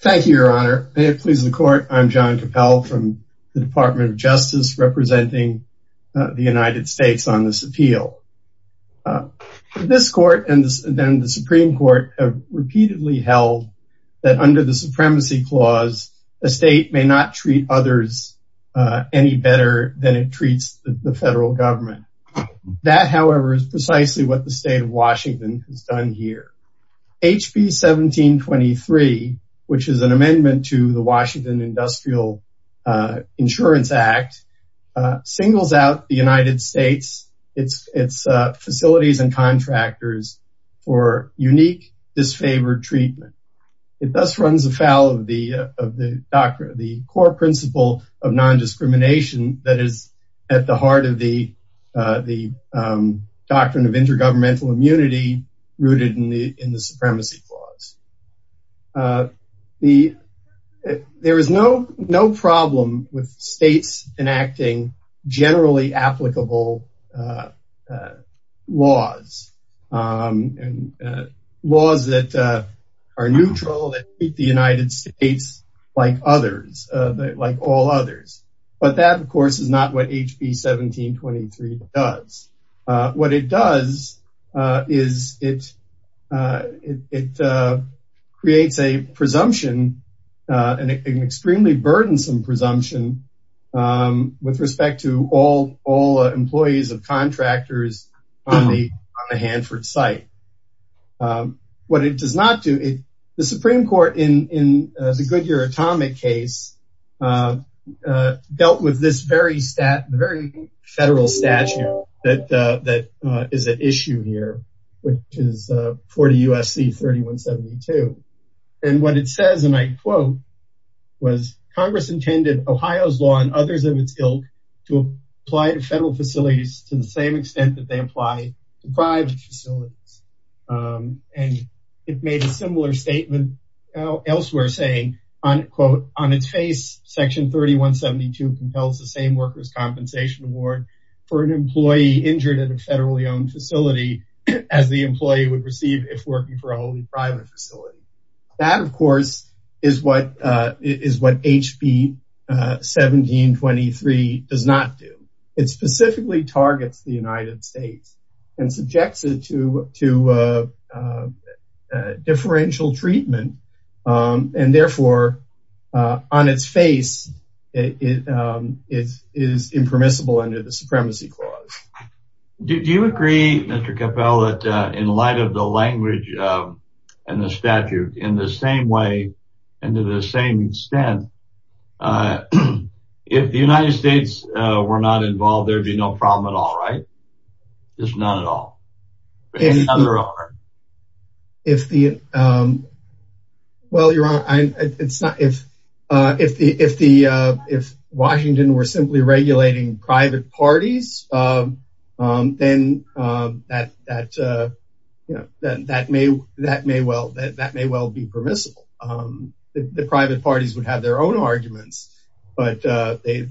Thank you, your honor. May it please the court, I'm John Cappell from the Department of Justice, representing the United States on this appeal. This court and then the Supreme Court have repeatedly held that under the Supremacy Clause, a state may not treat others any better than it treats the federal government. That, however, is precisely what the State of Washington has done here. HB 1723, which is an amendment to the Washington Industrial Insurance Act, singles out the United States, its facilities and contractors, for unique disfavored treatment. It thus runs afoul of the core principle of non-discrimination that is at the heart of the Doctrine of Intergovernmental Immunity rooted in the Supremacy Clause. There is no problem with states enacting generally applicable laws, laws that are neutral, that treat the United States like others, like all others. But that, of course, is not what HB 1723 does. What it does is it creates a presumption, an extremely burdensome presumption, with respect to all employees of contractors on the Hanford site. What it does not do, the Supreme Court, in the Goodyear Atomic case, dealt with this very federal statute that is at issue here, which is 40 U.S.C. 3172. And what it says, and I quote, was Congress intended Ohio's law and others of its ilk to apply to federal facilities to the same extent that they apply to private facilities. And it made a similar statement elsewhere, saying, quote, on its face, section 3172 compels the same workers' compensation award for an employee injured at a federally owned facility as the employee would receive if working for a wholly private facility. That, of course, is what HB 1723 does not do. It does not apply to differential treatment. And therefore, on its face, it is impermissible under the Supremacy Clause. Do you agree, Mr. Capell, that in light of the language and the statute, in the same way and to the same extent, if the United States were not involved, there would be no problem at all, right? Just not at all? In other order. If the, well, you're right. It's not, if Washington were simply regulating private parties, then that may well be permissible. The private parties would have their own arguments, but the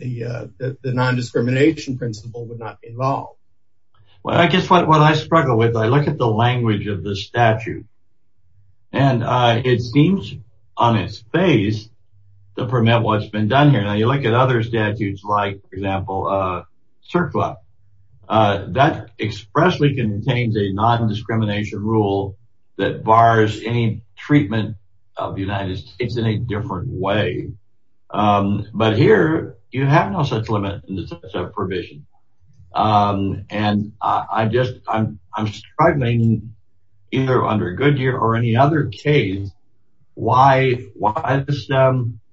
non-discrimination principle would not be involved. Well, I guess what I struggle with, I look at the language of the statute, and it seems, on its face, to permit what's been done here. Now, you look at other statutes, like, for example, CERCLA. That expressly contains a non-discrimination rule that bars any treatment of the United States in a different way. But here, you have no such limit in the sense of provision. And I just, I'm struggling, either under Goodyear or any other case, why this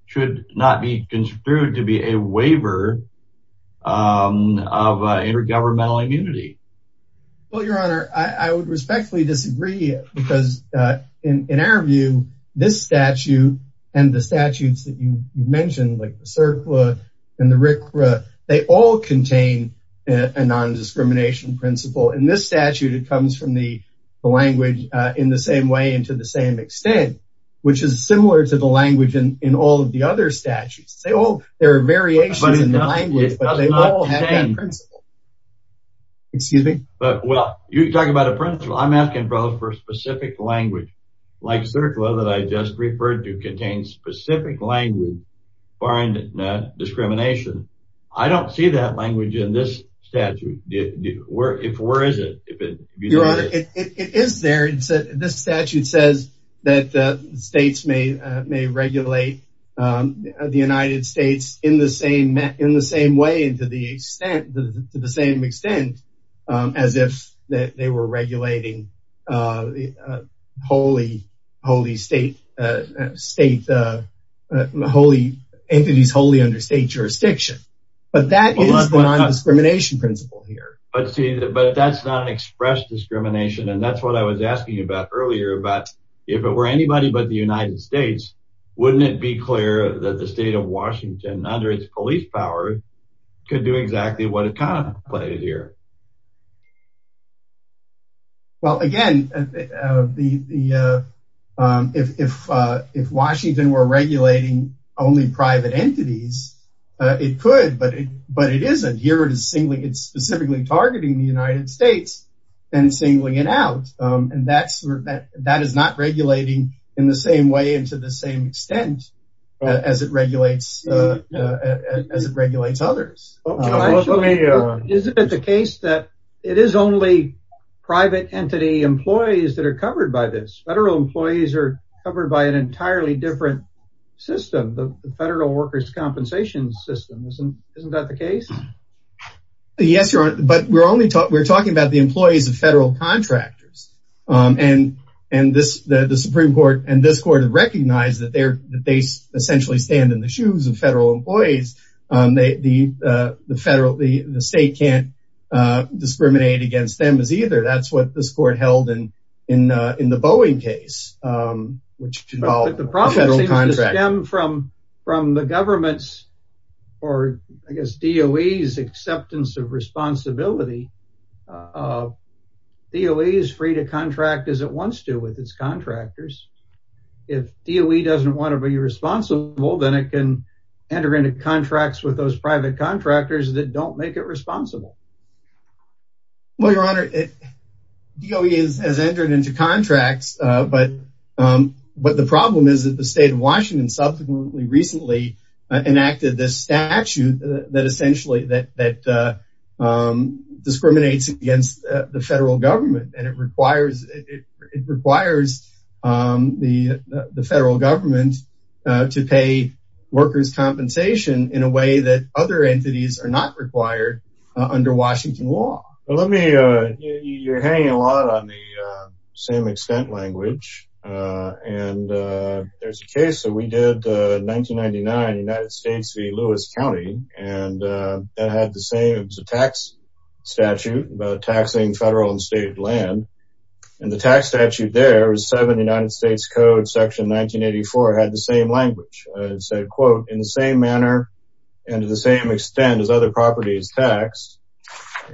should not be construed to be a waiver of intergovernmental immunity. Well, Your Honor, I would respectfully disagree because in our view, this CERCLA and the RCRA, they all contain a non-discrimination principle. In this statute, it comes from the language, in the same way and to the same extent, which is similar to the language in all of the other statutes. They all, there are variations in the language, but they all have that principle. Excuse me? But, well, you're talking about a principle. I'm asking for specific language, like CERCLA, that I just referred to contains specific language for foreign discrimination. I don't see that language in this statute. Where is it? Your Honor, it is there. This statute says that states may regulate the United States in the same way and to the same extent, as if they were entities wholly under state jurisdiction. But that is the non-discrimination principle here. But see, but that's not expressed discrimination. And that's what I was asking you about earlier, about if it were anybody but the United States, wouldn't it be clear that the state of Washington under its police power could do exactly what it contemplated here? Well, again, if Washington were regulating only private entities, it could, but it isn't. Here it is singling, it's specifically targeting the United States and singling it out. And that is not regulating in the same way and to the same extent as it regulates others. Well, let me, Your Honor. It is only private entity employees that are covered by this. Federal employees are covered by an entirely different system, the Federal Workers' Compensation system. Isn't that the case? Yes, Your Honor. But we're only talking about the employees of federal contractors. And the Supreme Court and this court have recognized that they essentially stand in the shoes of federal employees. The state can't discriminate against them as either. That's what this court held in the Boeing case, which involved federal contractors. But the problem seems to stem from the government's, or I guess DOE's, acceptance of responsibility. DOE is free to contract as it wants to with its contractors. If DOE doesn't want to be responsible, then it can enter into contracts with those private contractors that don't make it Well, Your Honor, DOE has entered into contracts. But the problem is that the state of Washington subsequently recently enacted this statute that essentially that discriminates against the federal government. And it requires the federal government to pay workers' compensation in a way that other Let me, you're hanging a lot on the same extent language. And there's a case that we did in 1999 in the United States v. Lewis County. And that had the same, it was a tax statute about taxing federal and state land. And the tax statute there was 7th United States Code, section 1984, had the same language. It said, quote, in the same manner, and to the same extent as other properties taxed.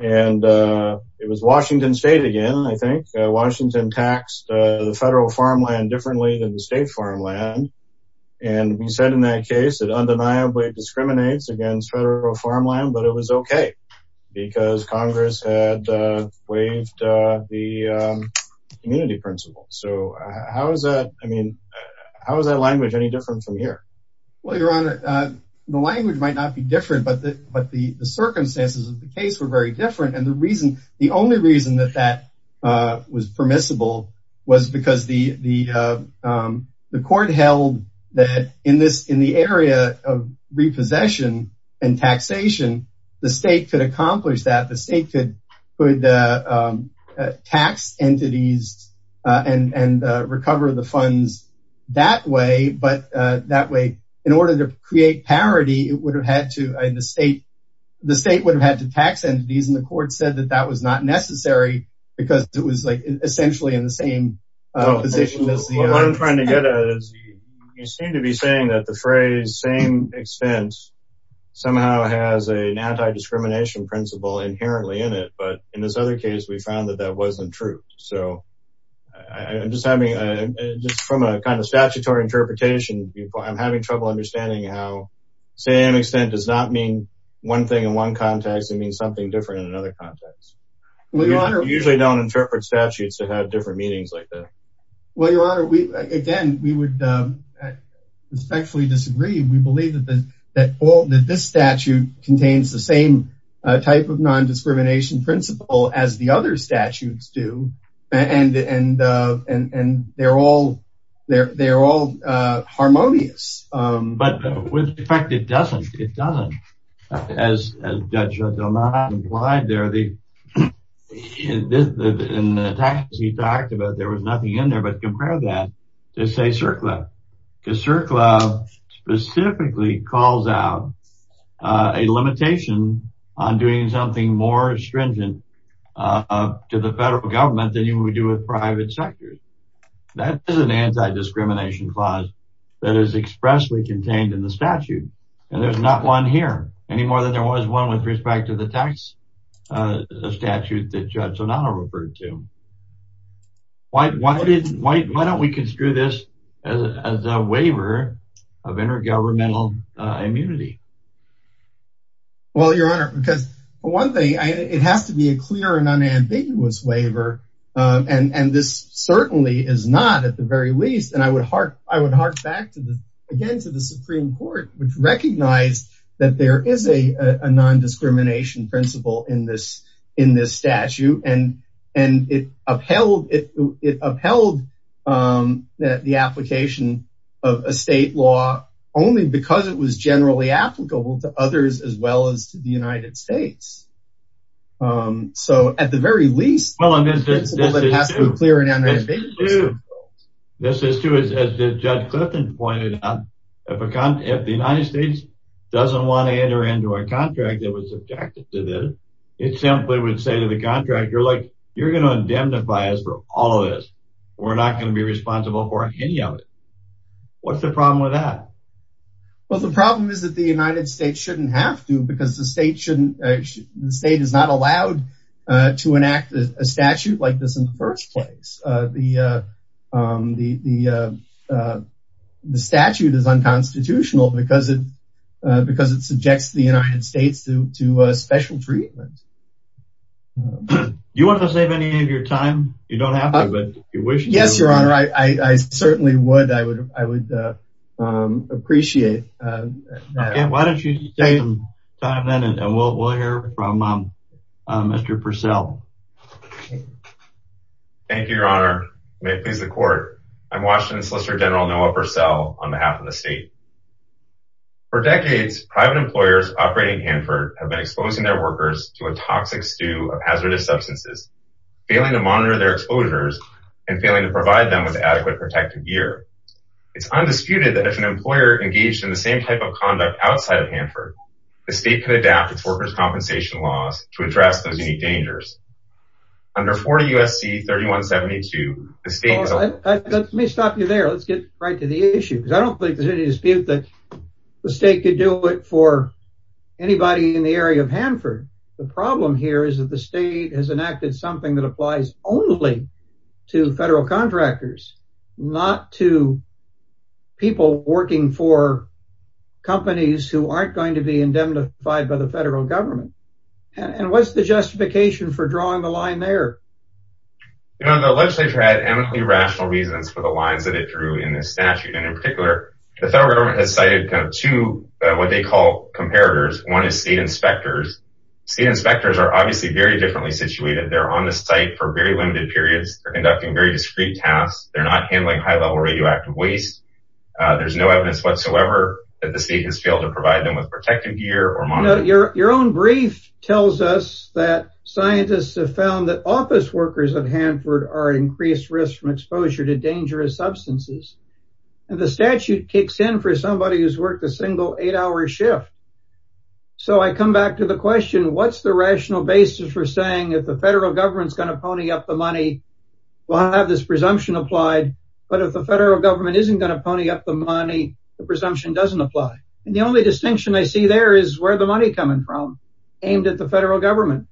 And it was Washington State again, I think. Washington taxed the federal farmland differently than the state farmland. And we said in that case, it undeniably discriminates against federal farmland, but it was okay, because Congress had waived the immunity principle. So how is that? I mean, how is that language any different from here? Well, Your Honor, the language might not be different, but the circumstances of the case were very different. And the reason, the only reason that that was permissible was because the court held that in this in the area of repossession and taxation, the state could accomplish that the state could tax entities and recover the funds that way. But that way, in order to create parity, it would have had to, the state, the state would have had to tax entities, and the court said that that was not necessary, because it was like, essentially in the same position as the- What I'm trying to get at is, you seem to be saying that the phrase same expense, somehow has an anti-discrimination principle inherently in it. But in this other case, we found that that wasn't true. So I'm just having a, just from a kind of statutory interpretation, I'm having trouble understanding how same extent does not mean one thing in one context, it means something different in another context. We usually don't interpret statutes to have different meanings like that. Well, Your Honor, we, again, we would respectfully disagree. We believe that the, that all that this statute contains the same type of non-discrimination principle as the other statutes do. And, and, and they're all, they're, they're all harmonious. But with effect, it doesn't, it doesn't. As Judge Delman implied there, the, in the taxes he talked about, there was nothing in there, but compare that to, say, CERCLA. Because CERCLA specifically calls out a limitation on doing something more stringent to the federal government than you would do with private sectors. That is an anti-discrimination clause that is expressly contained in the statute. And there's not one here, any more than there was one with respect to the tax statute that Judge Donato referred to. Why, why did, why, why don't we construe this as a waiver of intergovernmental immunity? Well, Your Honor, because one thing I, it has to be a clear and unambiguous waiver. And, and this certainly is not at the very least. And I would heart, I would heart back to the, again, to the Supreme Court, which recognized that there is a, a non-discrimination principle in this, in this statute. And, and it upheld, it, it upheld that the application of a state law only because it was generally applicable to others, as well as to the United States. So at the very least, Well, I mean, this is true. This is true. As Judge Clifton pointed out, if a, if the United States doesn't want to enter into a contract that was subjected to this, it simply would say to the contractor, look, you're going to indemnify us for all of this. We're not going to be responsible for any of it. What's the problem is that the United States shouldn't have to, because the state shouldn't, the state is not allowed to enact a statute like this in the first place. The, the, the, the statute is unconstitutional because it, because it subjects the United States to, to a special treatment. Do you want to save any of your time? You don't have to, but if you wish to. Yes, your honor. I, I, I certainly would. I would, I would appreciate that. Why don't you take some time then and we'll, we'll hear from Mr. Purcell. Thank you, your honor. May it please the court. I'm Washington Solicitor General Noah Purcell on behalf of the state. For decades, private employers operating Hanford have been exposing their workers to a toxic stew of hazardous substances, failing to monitor their exposures and failing to provide them with adequate protective gear. It's undisputed that if an employer engaged in the same type of conduct outside of Hanford, the state could adapt its workers' compensation laws to address those unique dangers. Under 40 U.S.C. 3172, the state has allowed- Let me stop you there. Let's get right to the issue, because I don't think there's any dispute that the state could do it for anybody in the area of something that applies only to federal contractors, not to people working for companies who aren't going to be indemnified by the federal government. And what's the justification for drawing the line there? You know, the legislature had eminently rational reasons for the lines that it drew in this statute. And in particular, the federal government has cited kind of two, what they call comparators. One is state inspectors. State inspectors are on the site for very limited periods. They're conducting very discreet tasks. They're not handling high-level radioactive waste. There's no evidence whatsoever that the state has failed to provide them with protective gear or monitor- Now, your own brief tells us that scientists have found that office workers of Hanford are at increased risk from exposure to dangerous substances. And the statute kicks in for somebody who's worked a single eight-hour shift. So I come back to the question, what's the rational basis for saying if the federal government's going to pony up the money, we'll have this presumption applied. But if the federal government isn't going to pony up the money, the presumption doesn't apply. And the only distinction I see there is where the money coming from aimed at the federal government.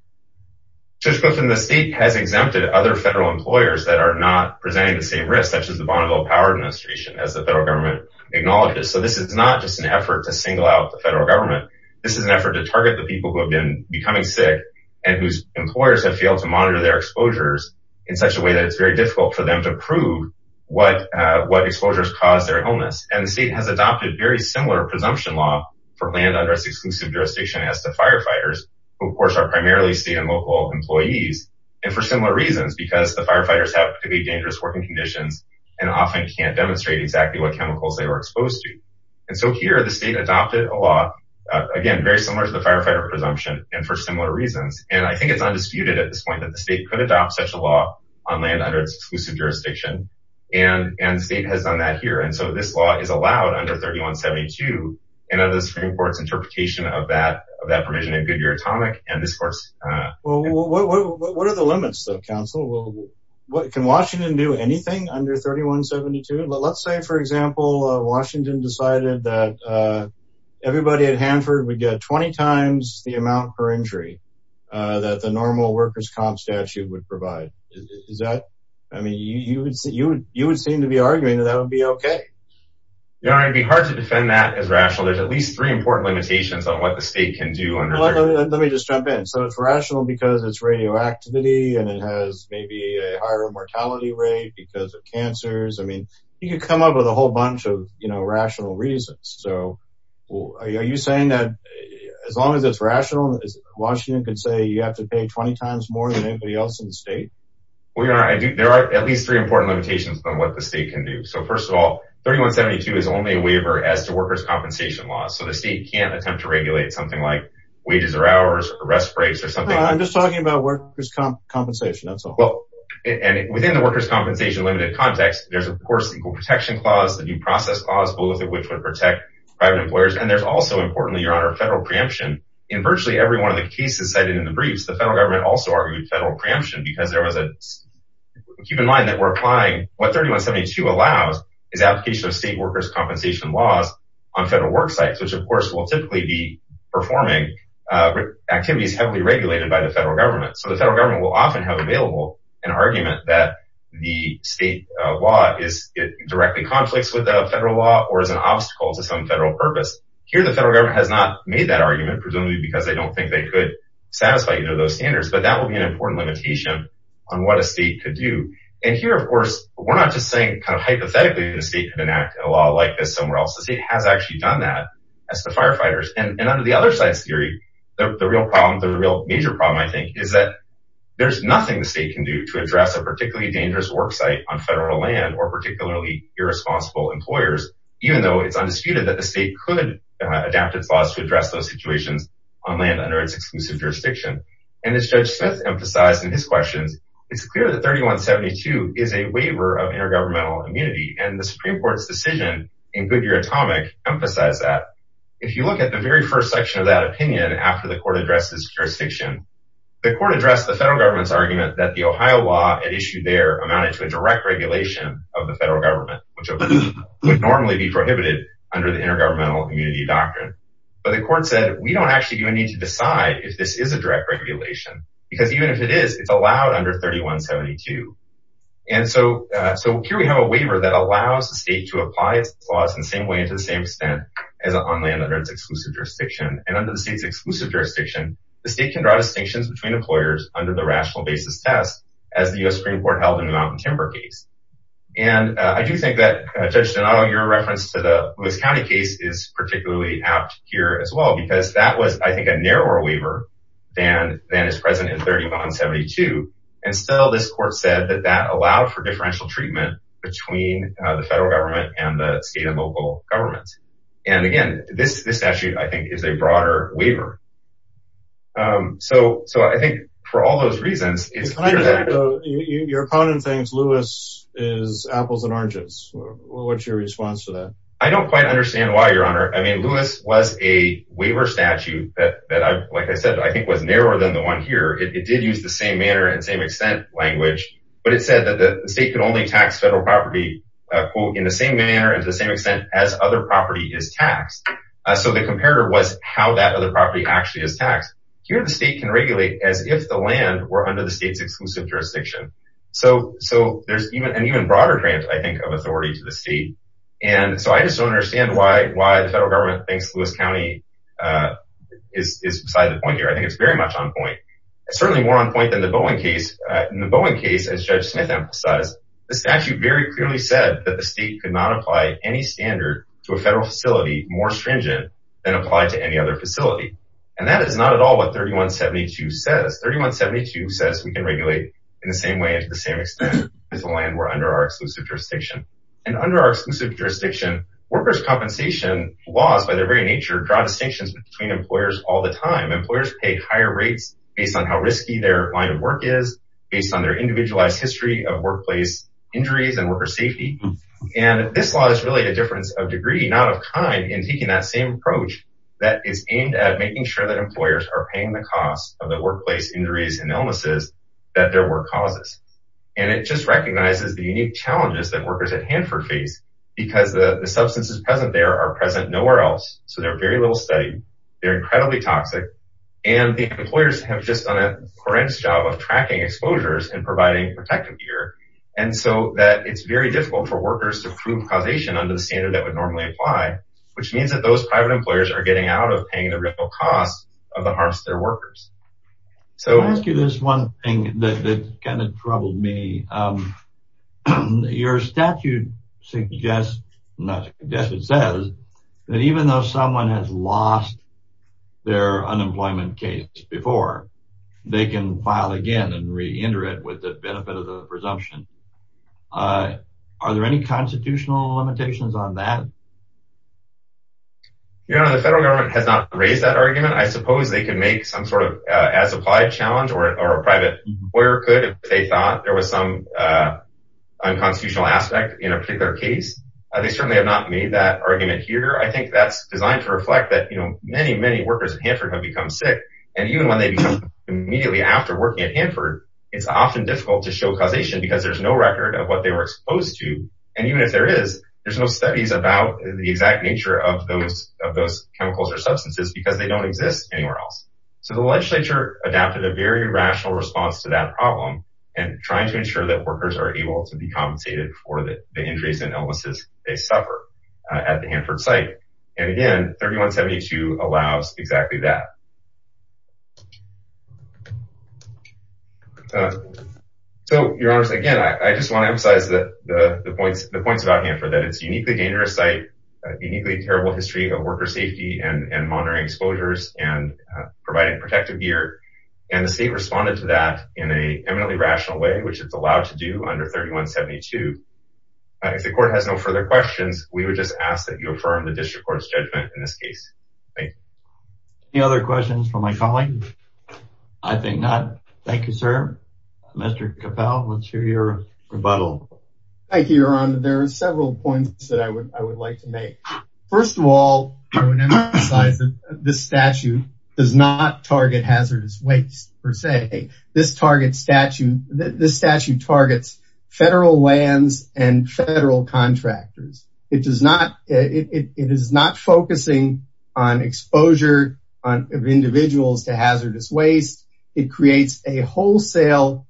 Judge Griffin, the state has exempted other federal employers that are not presenting the same risk, such as the Bonneville Power Administration, as the federal government acknowledges. So this is not just an effort to single out the federal government. This is an effort to target the people who have been becoming sick and whose employers have failed to monitor their exposures in such a way that it's very difficult for them to prove what exposures caused their illness. And the state has adopted very similar presumption law for land under its exclusive jurisdiction as the firefighters, who of course are primarily state and local employees. And for similar reasons, because the firefighters have to be dangerous working conditions and often can't demonstrate exactly what chemicals they were exposed to. And so here the state adopted a law, again, very similar to the firefighter presumption and for similar reasons. And I think it's undisputed at this point that the state could adopt such a law on land under its exclusive jurisdiction. And the state has done that here. And so this law is allowed under 3172. And under the Supreme Court's interpretation of that provision in Goodyear Atomic and this court's... Well, what are the limits though, counsel? Can Washington do anything under 3172? Let's say, for example, Washington decided that everybody at Hanford would get 20 times the amount per injury that the normal workers' comp statute would provide. Is that... I mean, you would seem to be arguing that that would be okay. Yeah, it'd be hard to defend that as rational. There's at least three important limitations on what the state can do under 3172. Let me just jump in. So it's rational because it's radioactivity and it has maybe a higher mortality rate because of cancers. I mean, you could come up with a whole bunch of rational reasons. So are you saying that as long as it's rational, Washington can say you have to pay 20 times more than anybody else in the state? Well, you're right. There are at least three important limitations on what the state can do. So first of all, 3172 is only a waiver as to workers' compensation law. So the state can't attempt to regulate something like wages or hours or rest breaks or something... I'm just talking about workers' compensation, that's all. And within the workers' compensation limited context, there's of course the Equal Protection Clause, the New Process Clause, both of which would protect private employers. And there's also, importantly, Your Honor, federal preemption. In virtually every one of the cases cited in the briefs, the federal government also argued federal preemption because there was a... Keep in mind that we're applying... What 3172 allows is application of state workers' compensation laws on federal work sites, which of course will typically be performing activities heavily regulated by the federal government. So the federal government will often have available an argument that the state law directly conflicts with the federal law or is an obstacle to some federal purpose. Here, the federal government has not made that argument, presumably because they don't think they could satisfy either of those standards, but that will be an important limitation on what a state could do. And here, of course, we're not just saying kind of hypothetically that a state could enact a law like this somewhere else. The state has actually done that as to firefighters. And under the other side's theory, the real problem, the real major problem, I think, is that there's nothing the state can do to address a particularly dangerous work site on federal land or particularly irresponsible employers, even though it's undisputed that the state could adapt its laws to address those situations on land under its exclusive jurisdiction. And as Judge Smith emphasized in his questions, it's clear that 3172 is a waiver of intergovernmental immunity, and the Supreme Court's decision in Goodyear Atomic emphasized that. If you look at the very first section of that opinion after the court addressed this jurisdiction, the court addressed the federal government's to a direct regulation of the federal government, which would normally be prohibited under the intergovernmental immunity doctrine. But the court said, we don't actually even need to decide if this is a direct regulation, because even if it is, it's allowed under 3172. And so here we have a waiver that allows the state to apply its laws in the same way and to the same extent as on land under its exclusive jurisdiction. And under the state's exclusive jurisdiction, the state can draw distinctions between employers under the rational basis test, as the US Supreme Court held in the Mountain Timber case. And I do think that, Judge Donato, your reference to the Lewis County case is particularly apt here as well, because that was, I think, a narrower waiver than is present in 3172. And still, this court said that that allowed for differential treatment between the federal government and the state and local governments. And again, this statute, I think, is a broader waiver. So I think for all those reasons... Your opponent thinks Lewis is apples and oranges. What's your response to that? I don't quite understand why, Your Honor. I mean, Lewis was a waiver statute that, like I said, I think was narrower than the one here. It did use the same manner and same extent language, but it said that the state can only tax federal property, quote, in the same manner and to the same extent as other property is taxed. So the comparator was how that other property actually is taxed. Here, the state can regulate as if the land were under the state's exclusive jurisdiction. So there's an even broader grant, I think, of authority to the state. And so I just don't understand why the federal government thinks Lewis County is beside the point here. I think it's very much on point. It's certainly more on point than the Bowen case. In the Bowen case, as Judge Smith emphasized, the statute very clearly said that the state could not apply any standard to a federal facility more stringent than apply to any other facility. And that is not at all what 3172 says. 3172 says we can regulate in the same way and to the same extent as the land were under our exclusive jurisdiction. And under our exclusive jurisdiction, workers' compensation laws, by their very nature, draw distinctions between employers all the time. Employers pay higher rates based on how risky their line of work is, based on their individualized history of workplace injuries and worker safety. And this law is really a difference of degree, not of kind, in taking that same approach that is aimed at making sure that employers are paying the cost of the workplace injuries and illnesses that their work causes. And it just recognizes the unique challenges that workers at Hanford face because the substances present there are present nowhere else. So they're very little studied, they're incredibly toxic, and the employers have just done a horrendous job of tracking exposures and providing protective gear. And so that it's very difficult for workers to prove causation under the standard that would normally apply, which means that those private employers are getting out of paying the real cost of the harms to their workers. So... Can I ask you this one thing that kind of troubled me? Your statute suggests, I guess it says, that even though someone has lost their unemployment case before, they can file again and re enter it with the benefit of the presumption. Are there any constitutional limitations on that? Your Honor, the federal government has not raised that argument. I suppose they can make some sort of as applied challenge, or a private employer could if they thought there was some unconstitutional aspect in a particular case. They certainly have not made that argument here. I think that's designed to reflect that many, many workers at Hanford have become sick, and even when they become immediately after working at Hanford, it's often difficult to show causation because there's no record of what they were exposed to. And even if there is, there's no studies about the exact nature of those chemicals or substances because they don't exist anywhere else. So the legislature adapted a very rational response to that problem, and trying to ensure that workers are able to be compensated for the injuries and illnesses they suffer at the Hanford site. And again, 3172 allows exactly that. So, Your Honors, again, I just wanna emphasize the points about Hanford, that it's a uniquely dangerous site, uniquely terrible history of worker safety and monitoring exposures and providing protective gear. And the state responded to that in a eminently rational way, which it's allowed to do under 3172. If the court has no other questions, we would just ask that you affirm the district court's judgment in this case. Any other questions from my colleague? I think not. Thank you, sir. Mr. Capel, let's hear your rebuttal. Thank you, Your Honor. There are several points that I would like to make. First of all, I would emphasize that this statute does not target hazardous waste, per se. This statute targets federal lands and federal contractors. It is not focusing on exposure of individuals to hazardous waste. It creates a wholesale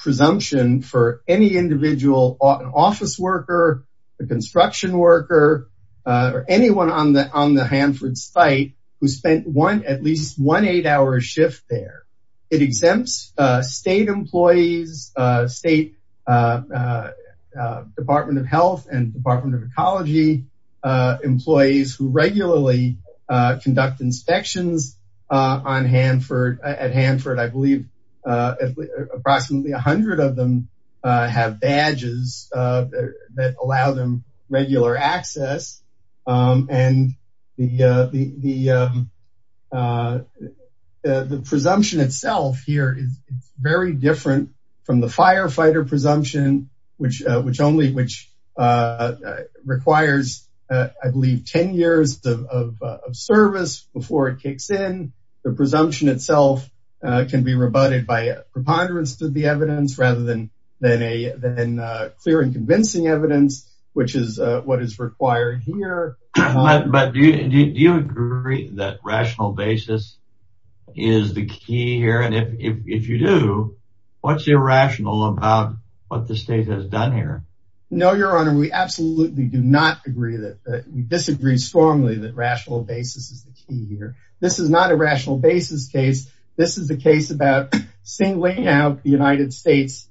presumption for any individual, an office worker, a construction worker, or anyone on the Hanford site who spent at least one eight hour shift there. It exempts state employees, State Department of Health and Department of Ecology employees who regularly conduct inspections at Hanford. I believe approximately 100 of them have badges that allow them regular access. And the presumption itself here is very different from the firefighter presumption, which only requires, I believe, 10 years of service before it kicks in. The presumption itself can be rebutted by a preponderance to the evidence rather than clear and convincing evidence, which is what is required here. But do you agree that rational basis is the key here? And if you do, what's irrational about what the state has done here? No, Your Honor. We absolutely do not agree that... We disagree strongly that rational basis is the key here. This is not a rational basis case. This is a case about singling out the United States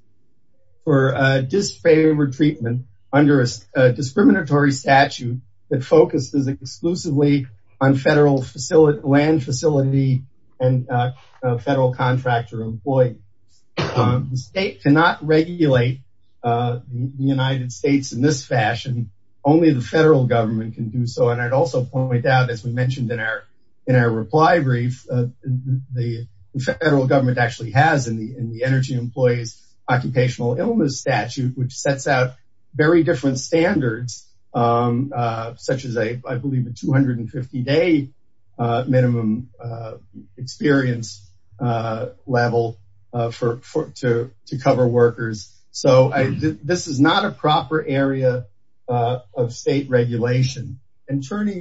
for a disfavored treatment under a discriminatory statute that focuses exclusively on federal land facility and federal contractor employees. The state cannot regulate the United States in this fashion. Only the federal government can do so. And I'd also point out, as we mentioned in our reply brief, the federal government actually has in the Energy Employees Occupational Illness Statute, which sets out very different standards, such as, I believe, a 250 day minimum experience level to cover workers. So this is not a proper area of state regulation. Attorney...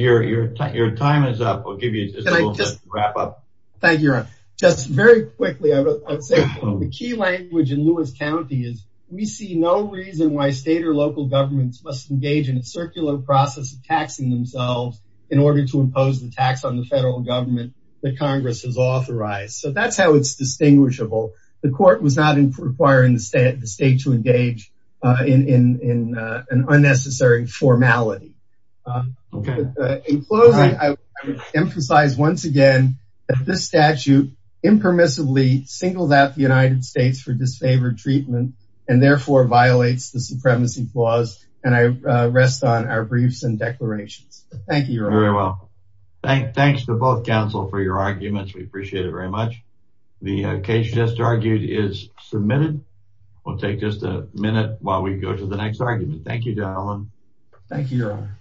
Your time is up. We'll give you just a little bit to wrap up. Thank you, Your Honor. Just very quickly, I'd say the key language in Lewis County is, we see no reason why state or local governments must engage in a circular process of taxing themselves in order to impose the tax on the federal government that Congress has authorized. So that's how it's distinguishable. The court was not requiring the state to engage in an unnecessary formality. In closing, I would emphasize once again that this statute impermissibly singles out the United States for disfavored treatment, and therefore violates the Supremacy Clause. And I rest on our briefs and declarations. Thank you, Your Honor. Very well. Thanks to both counsel for your arguments. We appreciate it very much. The case just argued is submitted. We'll take just a minute while we go to the next argument. Thank you, gentlemen. Thank you, Your Honor.